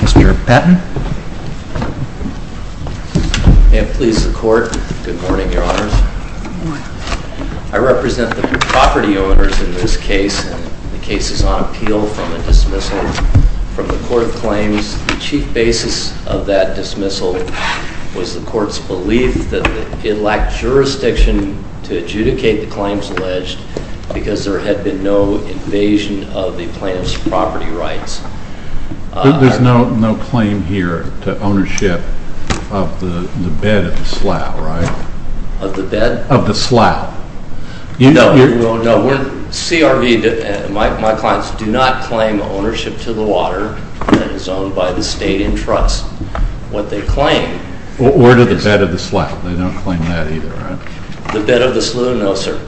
Mr. Patton. May it please the Court. Good morning, Your Honors. I represent the property owners in this case, and the case is on appeal from a dismissal from the Court of Claims. The chief basis of that dismissal was the Court's belief that it lacked jurisdiction to adjudicate the claims alleged because there had been no invasion of the plaintiff's property rights. There's no claim here to ownership of the bed at the Slough, right? Of the bed? Of the Slough. No, no. My clients do not claim ownership to the water that is owned by the state in trust. Where did the bed of the Slough? They don't claim that either, right? The bed of the Slough, no sir.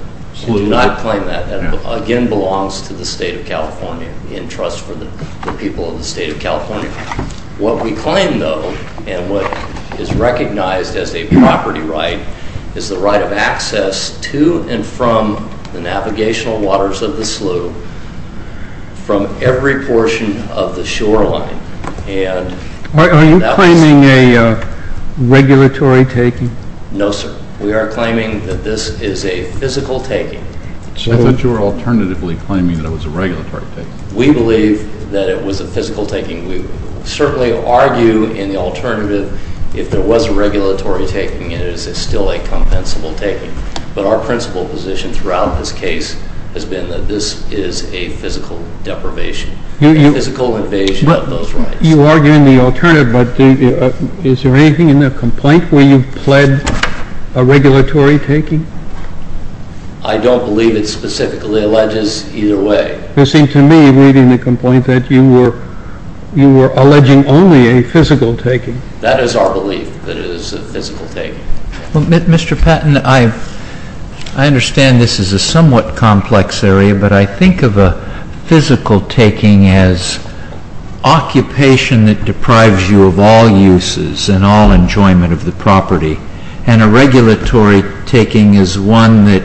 We do not claim that. That again belongs to the state of California, in trust for the people of the state of California. What we claim though, and what is recognized as a property right, is the right of access to and from the navigational waters of the Slough from every portion of the shoreline. Are you claiming a regulatory taking? No, sir. We are claiming that this is a physical taking. I thought you were alternatively claiming that it was a regulatory taking. We believe that it was a physical taking. We certainly argue in the alternative, if there was a regulatory taking, it is still a compensable taking. But our principle position throughout this case has been that this is a physical deprivation, a physical invasion of those rights. You argue in the alternative, but is there anything in the complaint where you've pled a regulatory taking? I don't believe it specifically alleges either way. It seemed to me, reading the complaint, that you were alleging only a physical taking. That is our belief, that it is a physical taking. Mr. Patton, I understand this is a somewhat complex area, but I think of a physical taking as occupation that deprives you of all uses and all enjoyment of the property. And a regulatory taking is one that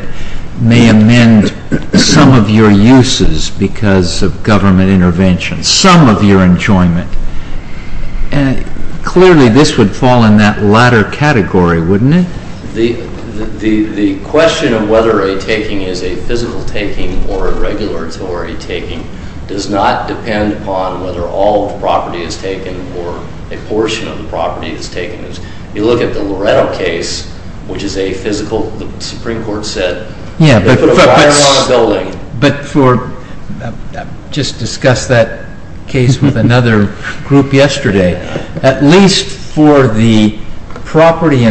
may amend some of your uses because of government intervention, some of your enjoyment. Clearly, this would fall in that latter category, wouldn't it? The question of whether a taking is a physical taking or a regulatory taking does not depend upon whether all of the property is taken or a portion of the property is taken. You look at the Loretto case, which is a physical, the Supreme Court said, they put a wire on a building. But just discuss that case with another group yesterday. At least for the property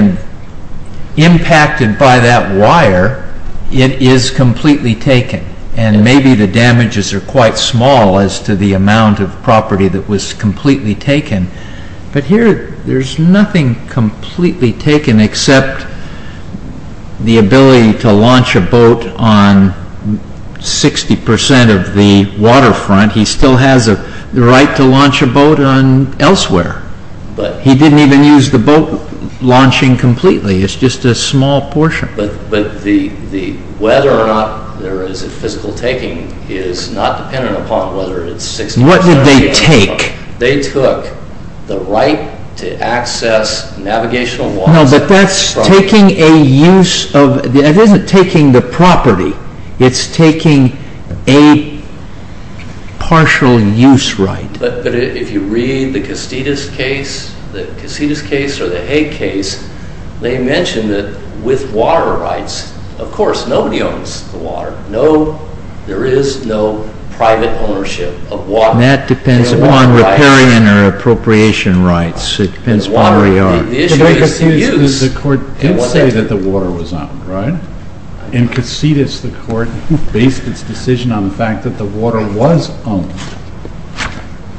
impacted by that wire, it is completely taken. And maybe the damages are quite small as to the amount of property that was completely taken. But here, there is nothing completely taken except the ability to launch a boat on 60% of the waterfront. He still has the right to launch a boat elsewhere. He didn't even use the boat launching completely. It is just a small portion. But whether or not there is a physical taking is not dependent upon whether it is 60% or 80%. What did they take? They took the right to access navigational water. No, but that is taking a use of, it isn't taking the property. It is taking a partial use right. But if you read the Casitas case, the Casitas case or the Hague case, they mentioned that with water rights, of course, nobody owns the water. There is no private ownership of water. And that depends upon riparian or appropriation rights. It depends upon where you are. The court did say that the water was owned, right? In Casitas, the court based its decision on the fact that the water was owned.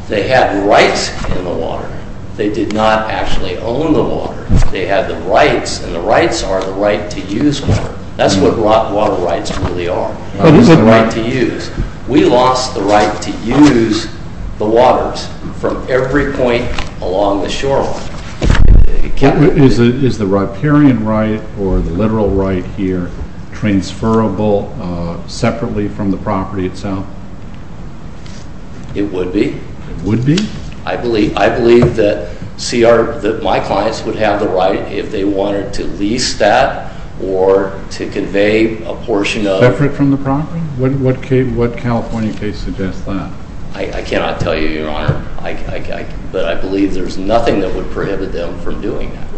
They had rights in the water. They did not actually own the water. They had the rights, and the rights are the right to use water. That is what water rights really are. It is the right to use. We lost the right to use the waters from every point along the shoreline. Is the riparian right or the literal right here transferable separately from the property itself? It would be. It would be? I believe that CR, that my clients would have the right if they wanted to lease that or to convey a portion of Separate from the property? What California case suggests that? I cannot tell you, Your Honor. But I believe there is nothing that would prohibit them from doing that,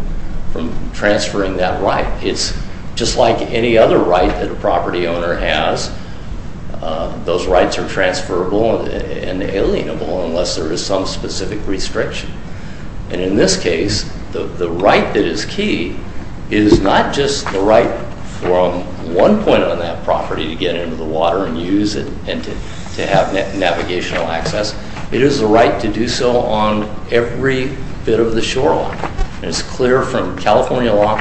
from transferring that right. It is just like any other right that a property owner has. Those rights are transferable and alienable unless there is some specific restriction. And in this case, the right that is key is not just the right from one point on that property to get into the water and use it and to have navigational access. It is the right to do so on every bit of the shoreline. It is clear from California law.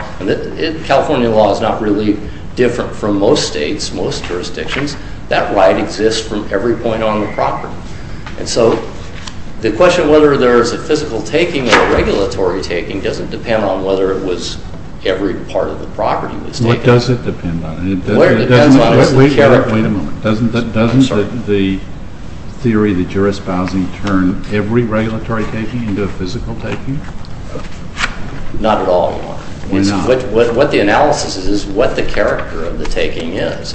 California law is not really different from most states, most jurisdictions. That right exists from every point on the property. And so the question whether there is a physical taking or a regulatory taking doesn't depend on whether it was every part of the property that was taken. What does it depend on? Wait a moment. Doesn't the theory that you are espousing turn every regulatory taking into a physical taking? Not at all, Your Honor. What the analysis is, is what the character of the taking is.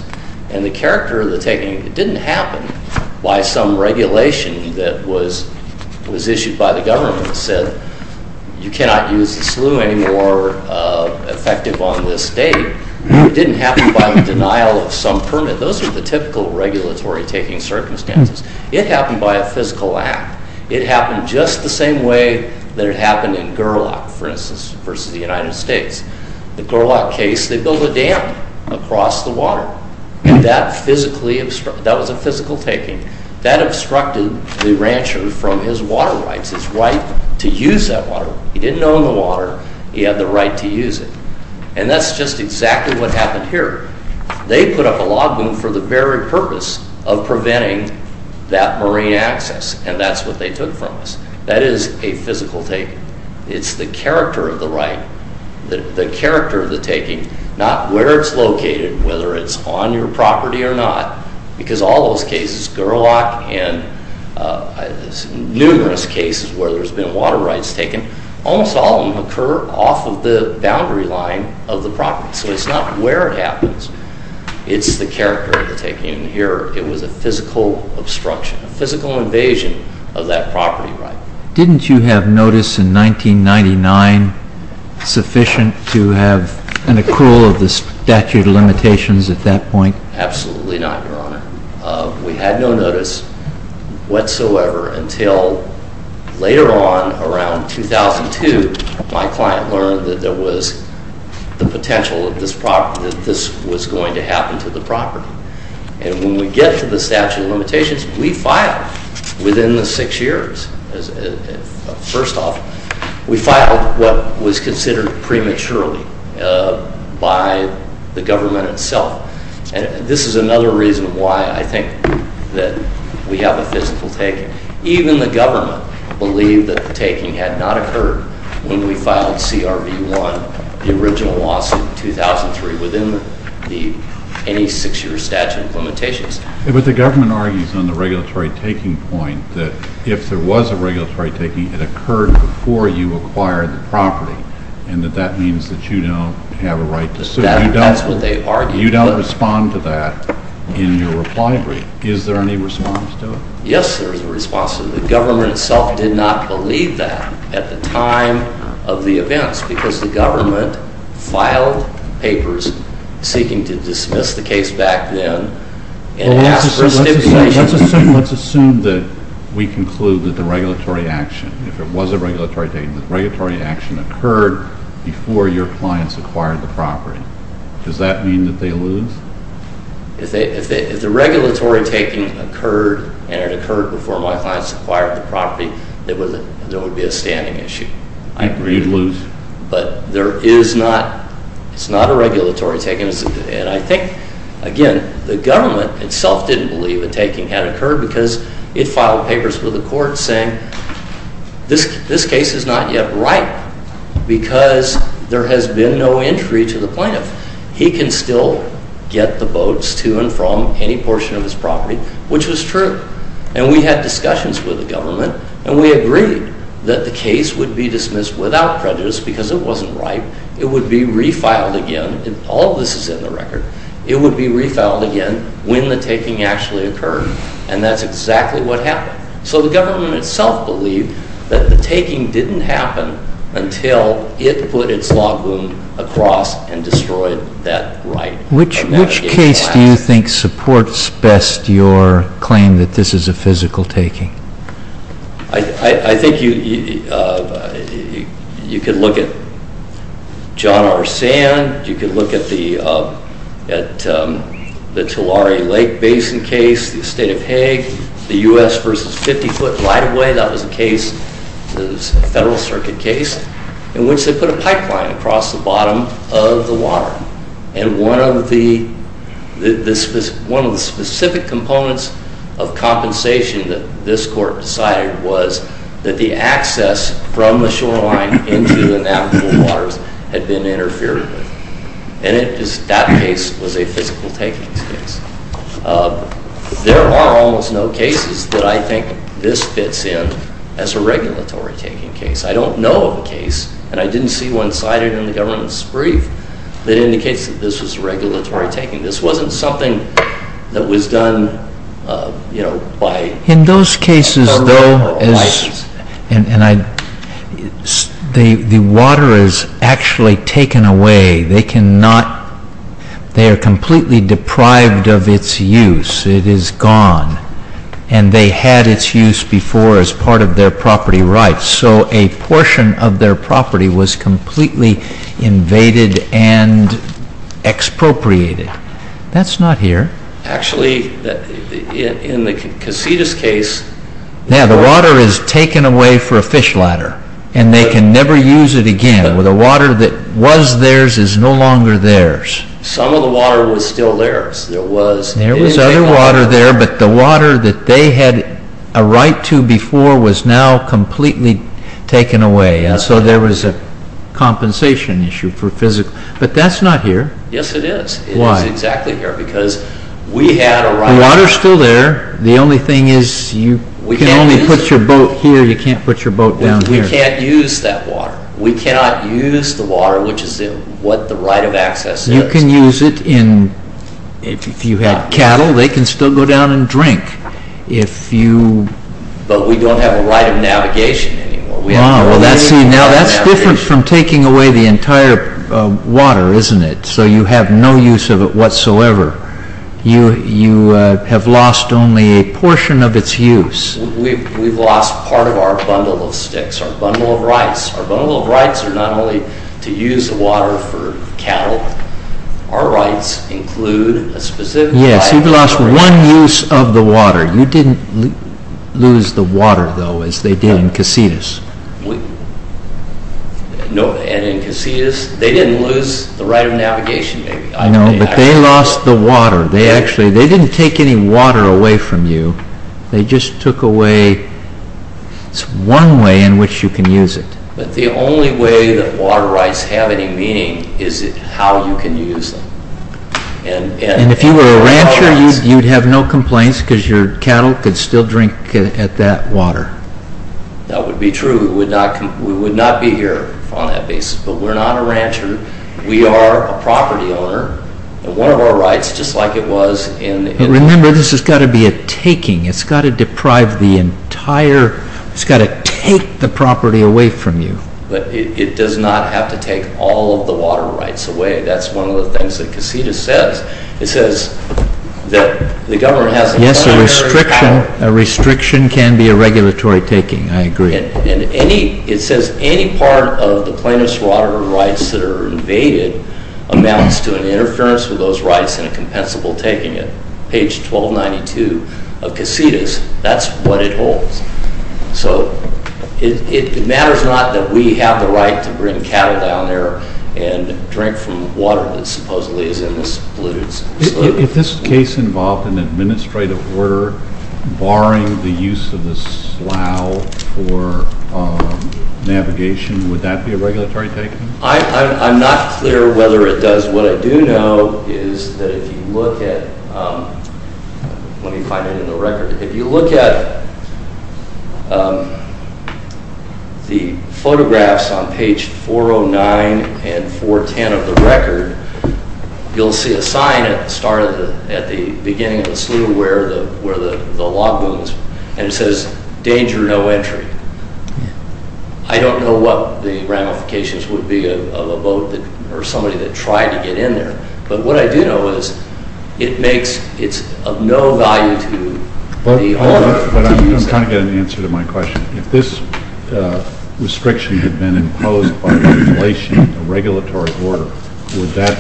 And the character of the taking didn't happen by some regulation that was issued by the government that said you cannot use the slough anymore effective on this state. It didn't happen by the denial of some permit. Those are the typical regulatory taking circumstances. It happened by a physical act. It happened just the same way that it happened in Gurlock, for instance, versus the United States. The Gurlock case, they built a dam across the water. That was a physical taking. That obstructed the rancher from his water rights, his right to use that water. He didn't own the water. He had the right to use it. And that's just exactly what happened here. They put up a law boom for the very purpose of preventing that marine access, and that's what they took from us. That is a physical taking. It's the character of the right, the character of the taking, not where it's located, whether it's on your property or not, because all those cases, Gurlock and numerous cases where there's been water rights taken, almost all of them occur off of the boundary line of the property. So it's not where it happens. It's the character of the taking. And here it was a physical obstruction, a physical invasion of that property right. Didn't you have notice in 1999 sufficient to have an accrual of the statute of limitations at that point? Absolutely not, Your Honor. We had no notice whatsoever until later on around 2002, my client learned that there was the potential that this was going to happen to the property. And when we get to the statute of limitations, we filed within the six years. First off, we filed what was considered prematurely by the government itself. And this is another reason why I think that we have a physical taking. Even the government believed that the taking had not occurred when we filed CRB 1, the original lawsuit in 2003 within any six-year statute of limitations. But the government argues on the regulatory taking point that if there was a regulatory taking, it occurred before you acquired the property, and that that means that you don't have a right to sue. That's what they argue. You don't respond to that in your reply brief. Is there any response to it? Yes, there is a response to it. The government itself did not believe that at the time of the events because the government filed papers seeking to dismiss the case back then and ask for a stipulation. Let's assume that we conclude that the regulatory action, if it was a regulatory taking, the regulatory action occurred before your clients acquired the property. Does that mean that they lose? If the regulatory taking occurred and it occurred before my clients acquired the property, there would be a standing issue. I agree, you'd lose. But there is not, it's not a regulatory taking. And I think, again, the government itself didn't believe a taking had occurred because it filed papers with the court saying this case is not yet right because there has been no entry to the plaintiff. He can still get the boats to and from any portion of his property, which was true. And we had discussions with the government, and we agreed that the case would be dismissed without prejudice because it wasn't right. It would be refiled again. All of this is in the record. It would be refiled again when the taking actually occurred. And that's exactly what happened. So the government itself believed that the taking didn't happen until it put its log wound across and destroyed that right. Which case do you think supports best your claim that this is a physical taking? I think you could look at John R. Sand. You could look at the Tulare Lake Basin case, the estate of Hague. The U.S. versus 50-foot right-of-way, that was a case, a Federal Circuit case, in which they put a pipeline across the bottom of the water. And one of the specific components of compensation that this court decided was that the access from the shoreline into the navigable waters had been interfered with. And that case was a physical taking case. There are almost no cases that I think this fits in as a regulatory taking case. I don't know of a case, and I didn't see one cited in the government's brief, that indicates that this was regulatory taking. This wasn't something that was done, you know, by government or license. In those cases, though, the water is actually taken away. They are completely deprived of its use. It is gone. And they had its use before as part of their property rights. So a portion of their property was completely invaded and expropriated. That's not here. Actually, in the Casitas case... Yeah, the water is taken away for a fish ladder. And they can never use it again. The water that was theirs is no longer theirs. Some of the water was still theirs. There was other water there, but the water that they had a right to before was now completely taken away. So there was a compensation issue for physical... But that's not here. Yes, it is. Why? It is exactly here because we had a right... The water is still there. The only thing is you can only put your boat here. You can't put your boat down here. We can't use that water. We cannot use the water, which is what the right of access is. You can use it in... If you had cattle, they can still go down and drink. If you... But we don't have a right of navigation anymore. Wow. That's different from taking away the entire water, isn't it? So you have no use of it whatsoever. You have lost only a portion of its use. We've lost part of our bundle of sticks, our bundle of rights. Our bundle of rights are not only to use the water for cattle. Our rights include a specific right... Yes, you've lost one use of the water. You didn't lose the water, though, as they did in Casitas. And in Casitas, they didn't lose the right of navigation, maybe. I know, but they lost the water. They didn't take any water away from you. They just took away... It's one way in which you can use it. But the only way that water rights have any meaning is how you can use them. And if you were a rancher, you'd have no complaints because your cattle could still drink at that water. That would be true. We would not be here on that basis. But we're not a rancher. We are a property owner. And one of our rights, just like it was in... Remember, this has got to be a taking. It's got to deprive the entire... It's got to take the property away from you. But it does not have to take all of the water rights away. That's one of the things that Casitas says. It says that the government has... Yes, a restriction can be a regulatory taking. I agree. It says any part of the plaintiff's water rights that are invaded amounts to an interference with those rights and a compensable taking it. Page 1292 of Casitas, that's what it holds. So it matters not that we have the right to bring cattle down there and drink from water that supposedly is in this polluted saloon. If this case involved an administrative order barring the use of the slough for navigation, would that be a regulatory taking? I'm not clear whether it does. What I do know is that if you look at... Let me find it in the record. If you look at the photographs on page 409 and 410 of the record, you'll see a sign at the beginning of the slough where the log booms, and it says, danger, no entry. I don't know what the ramifications would be of a boat or somebody that tried to get in there. But what I do know is it's of no value to the owner. But I'm trying to get an answer to my question. If this restriction had been imposed by violation of a regulatory order, would that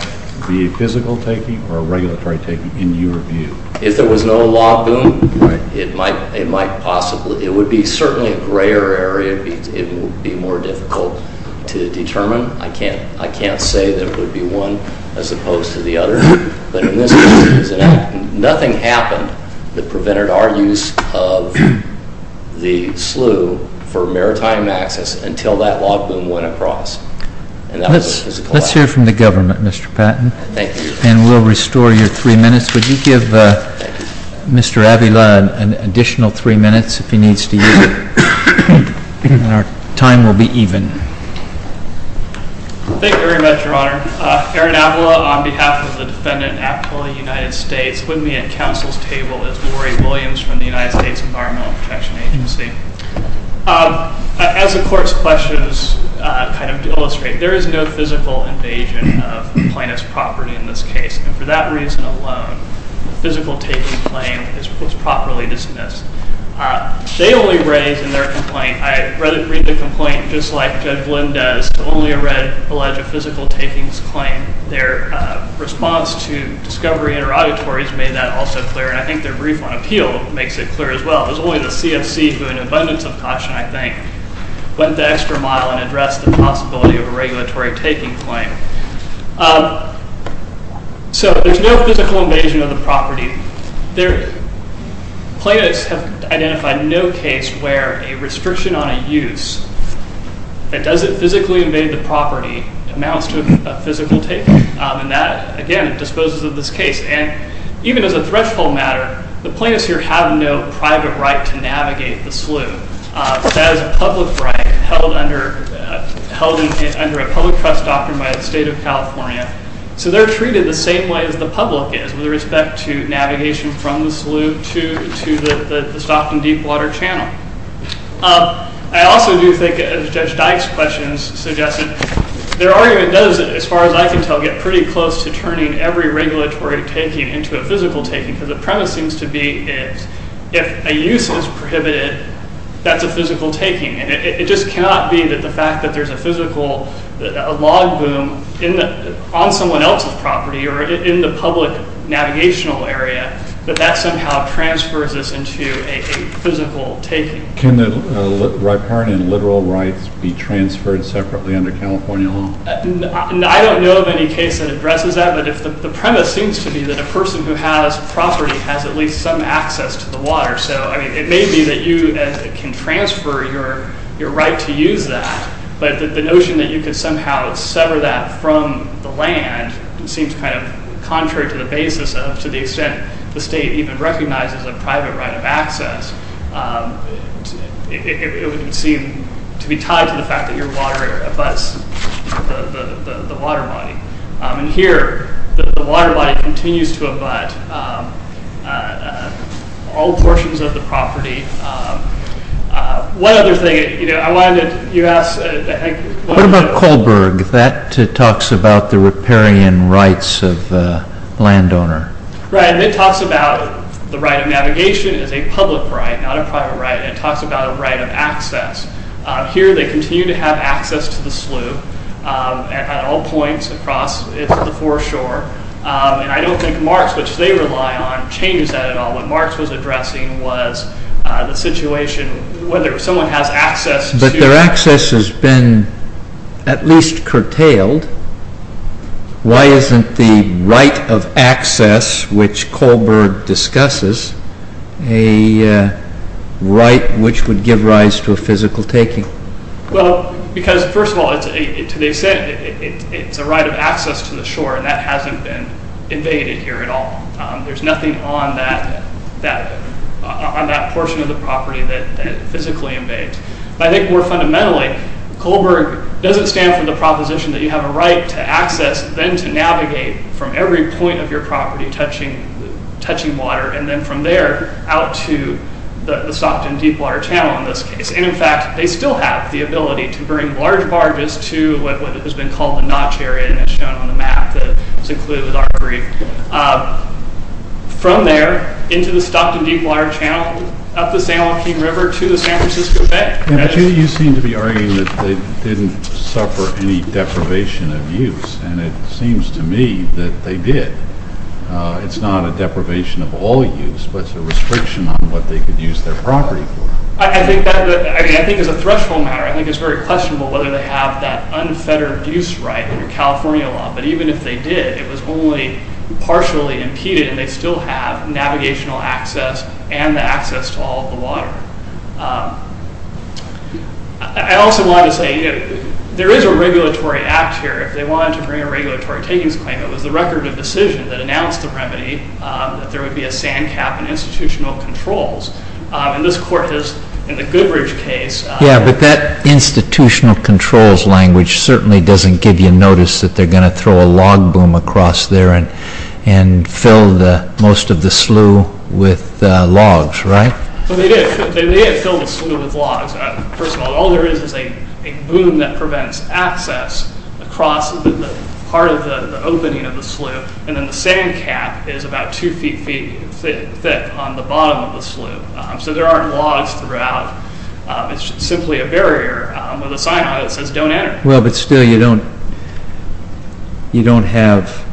be a physical taking or a regulatory taking in your view? If there was no log boom, it might possibly. It would be certainly a grayer area. It would be more difficult to determine. I can't say that it would be one as opposed to the other. But in this case, nothing happened that prevented our use of the slough for maritime access until that log boom went across. And that was a physical action. Let's hear from the government, Mr. Patton. Thank you. And we'll restore your three minutes. Would you give Mr. Avila an additional three minutes if he needs to use it? And our time will be even. Thank you very much, Your Honor. Aaron Avila on behalf of the defendant in the United States with me at counsel's table is Lori Williams from the United States Environmental Protection Agency. As the court's questions kind of illustrate, there is no physical invasion of plaintiff's property in this case. And for that reason alone, the physical taking claim was properly dismissed. They only raised in their complaint, I read the complaint just like Judge Lynn does, only a red alleged physical takings claim. Their response to discovery interrogatories made that also clear, and I think their brief on appeal makes it clear as well. It was only the CFC, who in abundance of caution, I think, went the extra mile and addressed the possibility of a regulatory taking claim. So there's no physical invasion of the property. Plaintiffs have identified no case where a restriction on a use that doesn't physically invade the property amounts to a physical taking. And that, again, disposes of this case. And even as a threshold matter, the plaintiffs here have no private right to navigate the slough. That is a public right held under a public trust doctrine by the State of California. So they're treated the same way as the public is with respect to navigation from the slough to the Stockton Deepwater Channel. I also do think, as Judge Dyke's questions suggested, their argument does, as far as I can tell, get pretty close to turning every regulatory taking into a physical taking because the premise seems to be if a use is prohibited, that's a physical taking. And it just cannot be that the fact that there's a physical, a log boom on someone else's property or in the public navigational area, that that somehow transfers this into a physical taking. Can the riparian literal rights be transferred separately under California law? I don't know of any case that addresses that, but the premise seems to be that a person who has property has at least some access to the water. So, I mean, it may be that you can transfer your right to use that, but the notion that you could somehow sever that from the land seems kind of contrary to the basis of to the extent the state even recognizes a private right of access. It would seem to be tied to the fact that your water abuts the water body. And here, the water body continues to abut all portions of the property. One other thing, you know, I wanted to, you asked... What about Kohlberg? That talks about the riparian rights of the landowner. Right, and it talks about the right of navigation as a public right, not a private right. It talks about a right of access. Here, they continue to have access to the slough at all points across the foreshore. And I don't think Marks, which they rely on, changes that at all. What Marks was addressing was the situation whether someone has access to... But their access has been at least curtailed. Why isn't the right of access, which Kohlberg discusses, a right which would give rise to a physical taking? Well, because, first of all, it's a right of access to the shore, and that hasn't been invaded here at all. There's nothing on that portion of the property that physically invades. But I think more fundamentally, Kohlberg doesn't stand for the proposition that you have a right to access, then to navigate, from every point of your property touching water, and then from there out to the Stockton Deepwater Channel in this case. And in fact, they still have the ability to bring large barges to what has been called the notch area, and it's shown on the map that's included with our brief. From there, into the Stockton Deepwater Channel, up the San Joaquin River, to the San Francisco Bay. But you seem to be arguing that they didn't suffer any deprivation of use, and it seems to me that they did. It's not a deprivation of all use, but it's a restriction on what they could use their property for. I think as a threshold matter, I think it's very questionable whether they have that unfettered use right under California law, but even if they did, it was only partially impeded, and they still have navigational access and the access to all the water. I also want to say, there is a regulatory act here. If they wanted to bring a regulatory takings claim, it was the record of decision that announced the remedy, that there would be a sand cap in institutional controls. And this court has, in the Goodridge case... Yeah, but that institutional controls language certainly doesn't give you notice that they're going to throw a log boom across there and fill most of the slough with logs, right? They did fill the slough with logs. First of all, all there is is a boom that prevents access across part of the opening of the slough, and then the sand cap is about two feet thick on the bottom of the slough. So there aren't logs throughout. It's simply a barrier with a sign on it that says, don't enter. Well, but still, you don't have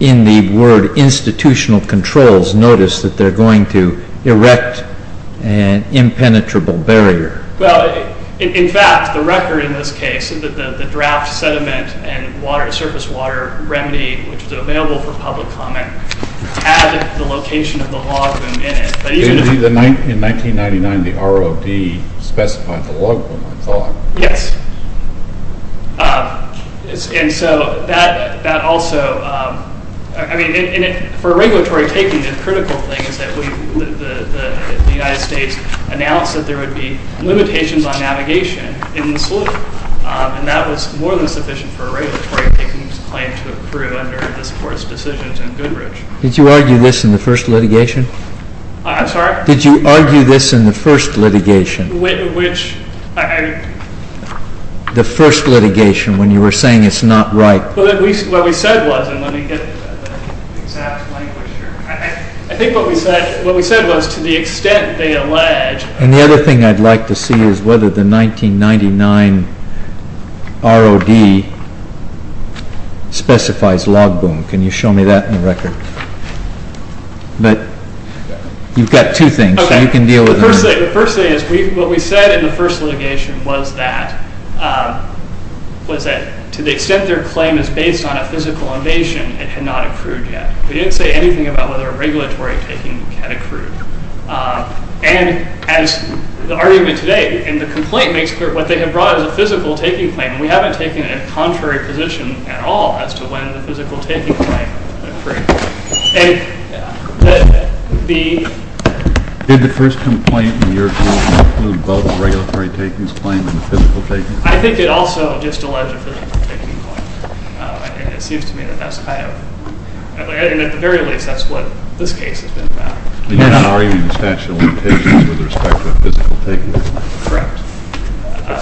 in the word institutional controls notice that they're going to erect an impenetrable barrier. Well, in fact, the record in this case, the draft sediment and surface water remedy, which is available for public comment, had the location of the log boom in it. Yes. And so that also, I mean, for a regulatory taking, the critical thing is that the United States announced that there would be limitations on navigation in the slough, and that was more than sufficient for a regulatory taking to claim to accrue under this court's decisions in Goodridge. Did you argue this in the first litigation? I'm sorry? Did you argue this in the first litigation? Which? The first litigation when you were saying it's not right. Well, what we said was, and let me get the exact language here. I think what we said was to the extent they allege. And the other thing I'd like to see is whether the 1999 ROD specifies log boom. Can you show me that in the record? But you've got two things. The first thing is what we said in the first litigation was that to the extent their claim is based on a physical invasion, it had not accrued yet. We didn't say anything about whether a regulatory taking had accrued. And as the argument today in the complaint makes clear, what they had brought is a physical taking claim, and we haven't taken a contrary position at all as to when the physical taking claim accrued. Did the first complaint in your case include both a regulatory taking claim and a physical taking claim? I think it also just alleged a physical taking claim. And it seems to me that that's kind of, and at the very least that's what this case has been about. You're not arguing the statute of limitations with respect to a physical taking claim. Correct.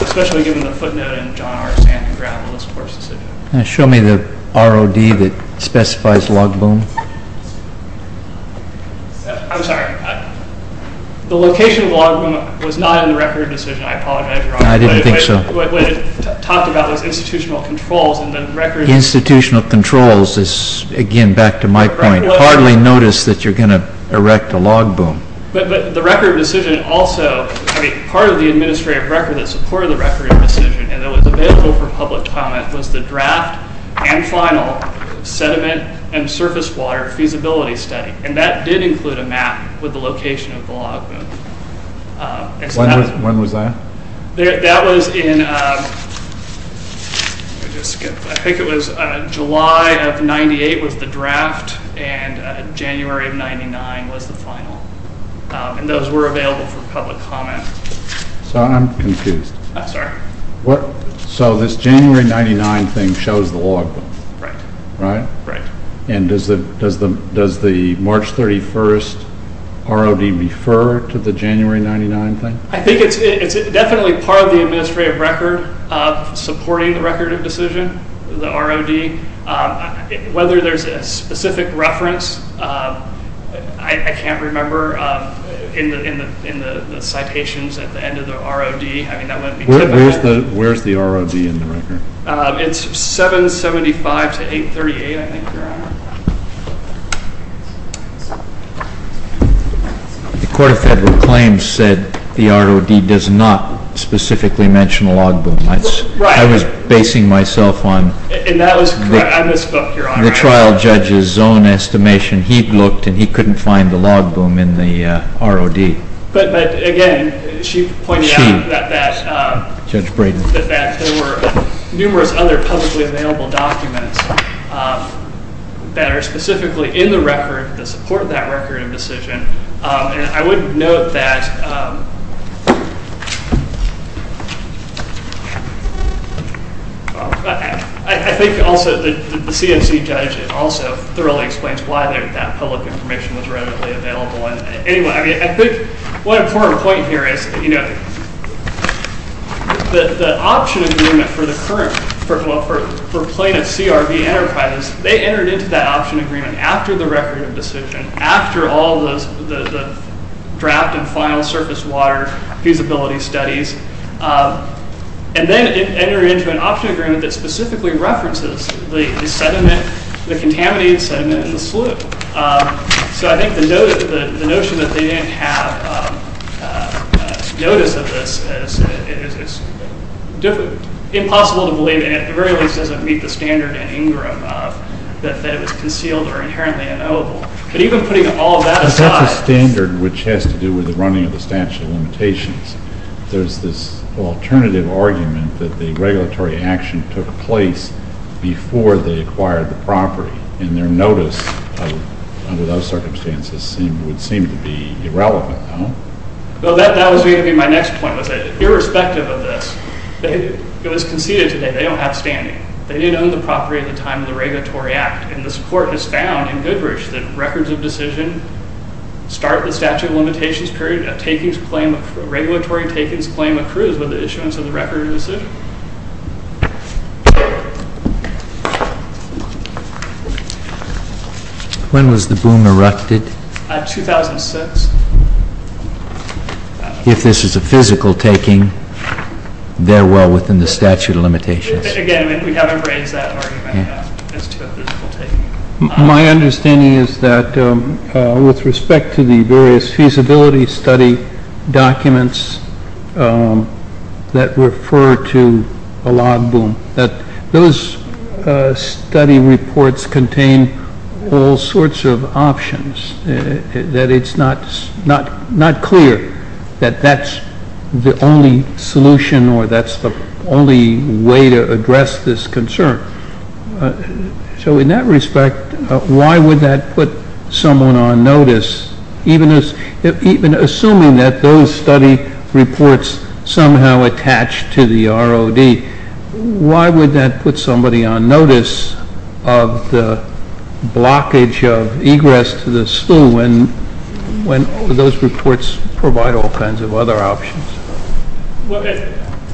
Especially given the footnote in John R. Sandin's grapple with this court's decision. Show me the ROD that specifies log boom. I'm sorry. The location of log boom was not in the record decision. I apologize, Your Honor. I didn't think so. What it talked about was institutional controls and the record decision. Institutional controls is, again, back to my point. Hardly notice that you're going to erect a log boom. But the record decision also, I mean, part of the administrative record that supported the record decision and that was available for public comment was the draft and final sediment and surface water feasibility study. And that did include a map with the location of the log boom. When was that? That was in, I think it was July of 98 was the draft, and January of 99 was the final. And those were available for public comment. So I'm confused. I'm sorry. So this January 99 thing shows the log boom. Right. Right? Right. And does the March 31st ROD refer to the January 99 thing? I think it's definitely part of the administrative record supporting the record decision, the ROD. Whether there's a specific reference, I can't remember, in the citations at the end of the ROD. I mean, that wouldn't be typical. Where's the ROD in the record? It's 775 to 838, I think, Your Honor. The Court of Federal Claims said the ROD does not specifically mention a log boom. I was basing myself on the trial judge's own estimation. He looked and he couldn't find the log boom in the ROD. But, again, she pointed out that there were numerous other publicly available documents that are specifically in the record that support that record of decision. And I would note that I think also the CMC judge also thoroughly explains why that public information was readily available. Anyway, I think one important point here is, you know, the option agreement for plaintiff CRB Enterprises, they entered into that option agreement after the record of decision, after all the draft and final surface water feasibility studies. And then it entered into an option agreement that specifically references the sediment, the contaminated sediment in the sluice. So I think the notion that they didn't have notice of this is impossible to believe, and at the very least doesn't meet the standard in Ingram that it was concealed or inherently unknowable. But even putting all that aside. But that's a standard which has to do with the running of the statute of limitations. There's this alternative argument that the regulatory action took place before they acquired the property. And their notice under those circumstances would seem to be irrelevant, no? Well, that was going to be my next point. Irrespective of this, it was conceded today they don't have standing. They did own the property at the time of the regulatory act. And this court has found in Goodrich that records of decision start the statute of limitations period. Regulatory takings claim accrues with the issuance of the record of decision. When was the boom erupted? 2006. If this is a physical taking, they're well within the statute of limitations. Again, we haven't raised that argument as to a physical taking. My understanding is that with respect to the various feasibility study documents that refer to a log boom, that those study reports contain all sorts of options, that it's not clear that that's the only solution or that's the only way to address this concern. So in that respect, why would that put someone on notice? Even assuming that those study reports somehow attach to the ROD, why would that put somebody on notice of the blockage of egress to the SLU when those reports provide all kinds of other options?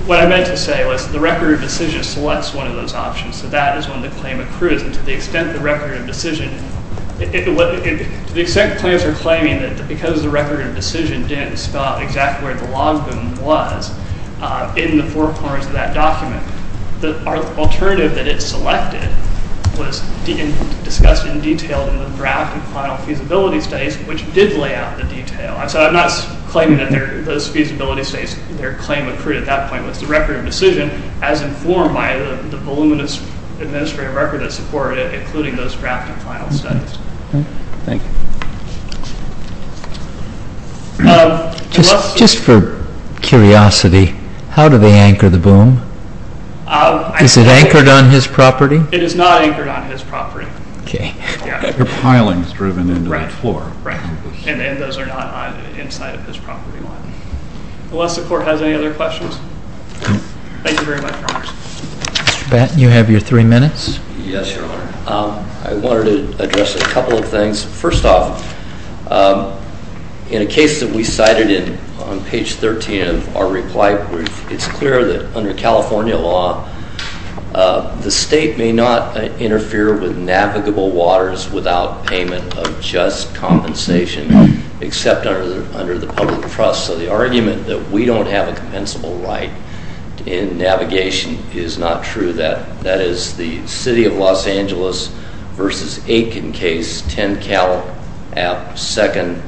What I meant to say was the record of decision selects one of those options, so that is when the claim accrues. And to the extent the record of decision, to the extent the claims are claiming that because the record of decision didn't spell out exactly where the log boom was in the four corners of that document, the alternative that it selected was discussed in detail in the draft and final feasibility studies, which did lay out the detail. So I'm not claiming that those feasibility studies, their claim accrued at that point. It was the record of decision as informed by the voluminous administrative record that supported it, including those draft and final studies. Just for curiosity, how do they anchor the boom? Is it anchored on his property? It is not anchored on his property. Okay. They're pilings driven into the floor. Right. And those are not inside of his property line. Unless the court has any other questions? No. Thank you very much, Your Honor. Mr. Batten, you have your three minutes. Yes, Your Honor. I wanted to address a couple of things. First off, in a case that we cited on page 13 of our reply brief, it's clear that under California law, the state may not interfere with navigable waters without payment of just compensation, except under the public trust. So the argument that we don't have a compensable right in navigation is not true. That is the City of Los Angeles v. Aiken case, 10 Cal, second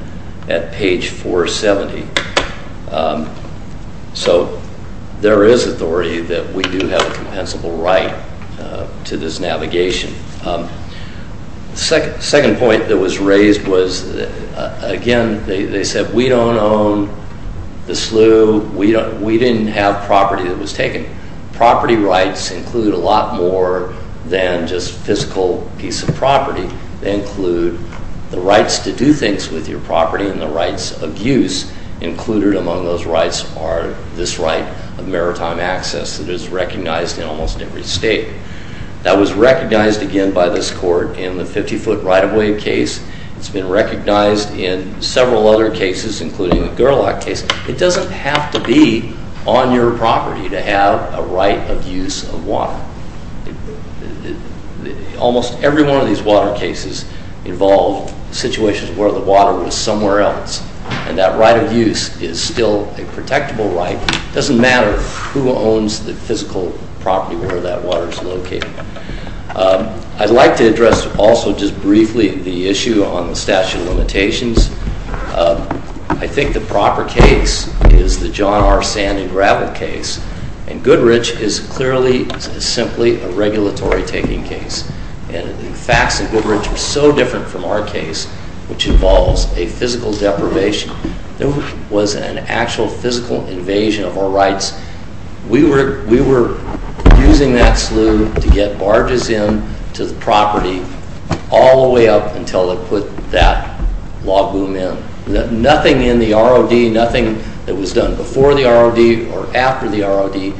at page 470. So there is authority that we do have a compensable right to this navigation. The second point that was raised was, again, they said we don't own the slough. We didn't have property that was taken. Property rights include a lot more than just physical piece of property. They include the rights to do things with your property and the rights of use. Included among those rights are this right of maritime access that is recognized in almost every state. That was recognized, again, by this court in the 50-foot right-of-way case. It's been recognized in several other cases, including the Gerlach case. It doesn't have to be on your property to have a right of use of water. Almost every one of these water cases involved situations where the water was somewhere else, and that right of use is still a protectable right. It doesn't matter who owns the physical property where that water is located. I'd like to address also just briefly the issue on the statute of limitations. I think the proper case is the John R. Sand and Gravel case, and Goodrich is clearly simply a regulatory-taking case. The facts in Goodrich are so different from our case, which involves a physical deprivation. It was an actual physical invasion of our rights. We were using that slough to get barges into the property all the way up until they put that log boom in. Nothing in the ROD, nothing that was done before the ROD or after the ROD,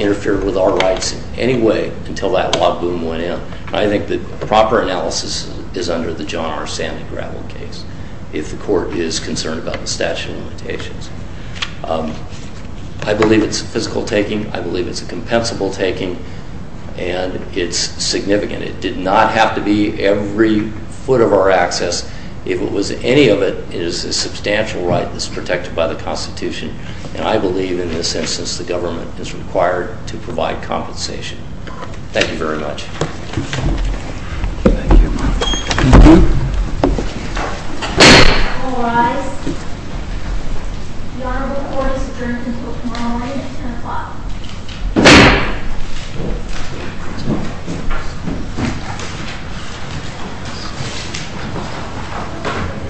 interfered with our rights in any way until that log boom went in. I think the proper analysis is under the John R. Sand and Gravel case if the court is concerned about the statute of limitations. I believe it's a physical taking. I believe it's a compensable taking, and it's significant. It did not have to be every foot of our access. If it was any of it, it is a substantial right that's protected by the Constitution, and I believe in this instance the government is required to provide compensation. Thank you very much. All rise. The Honorable Court is adjourned until tomorrow morning at 10 o'clock. Thank you.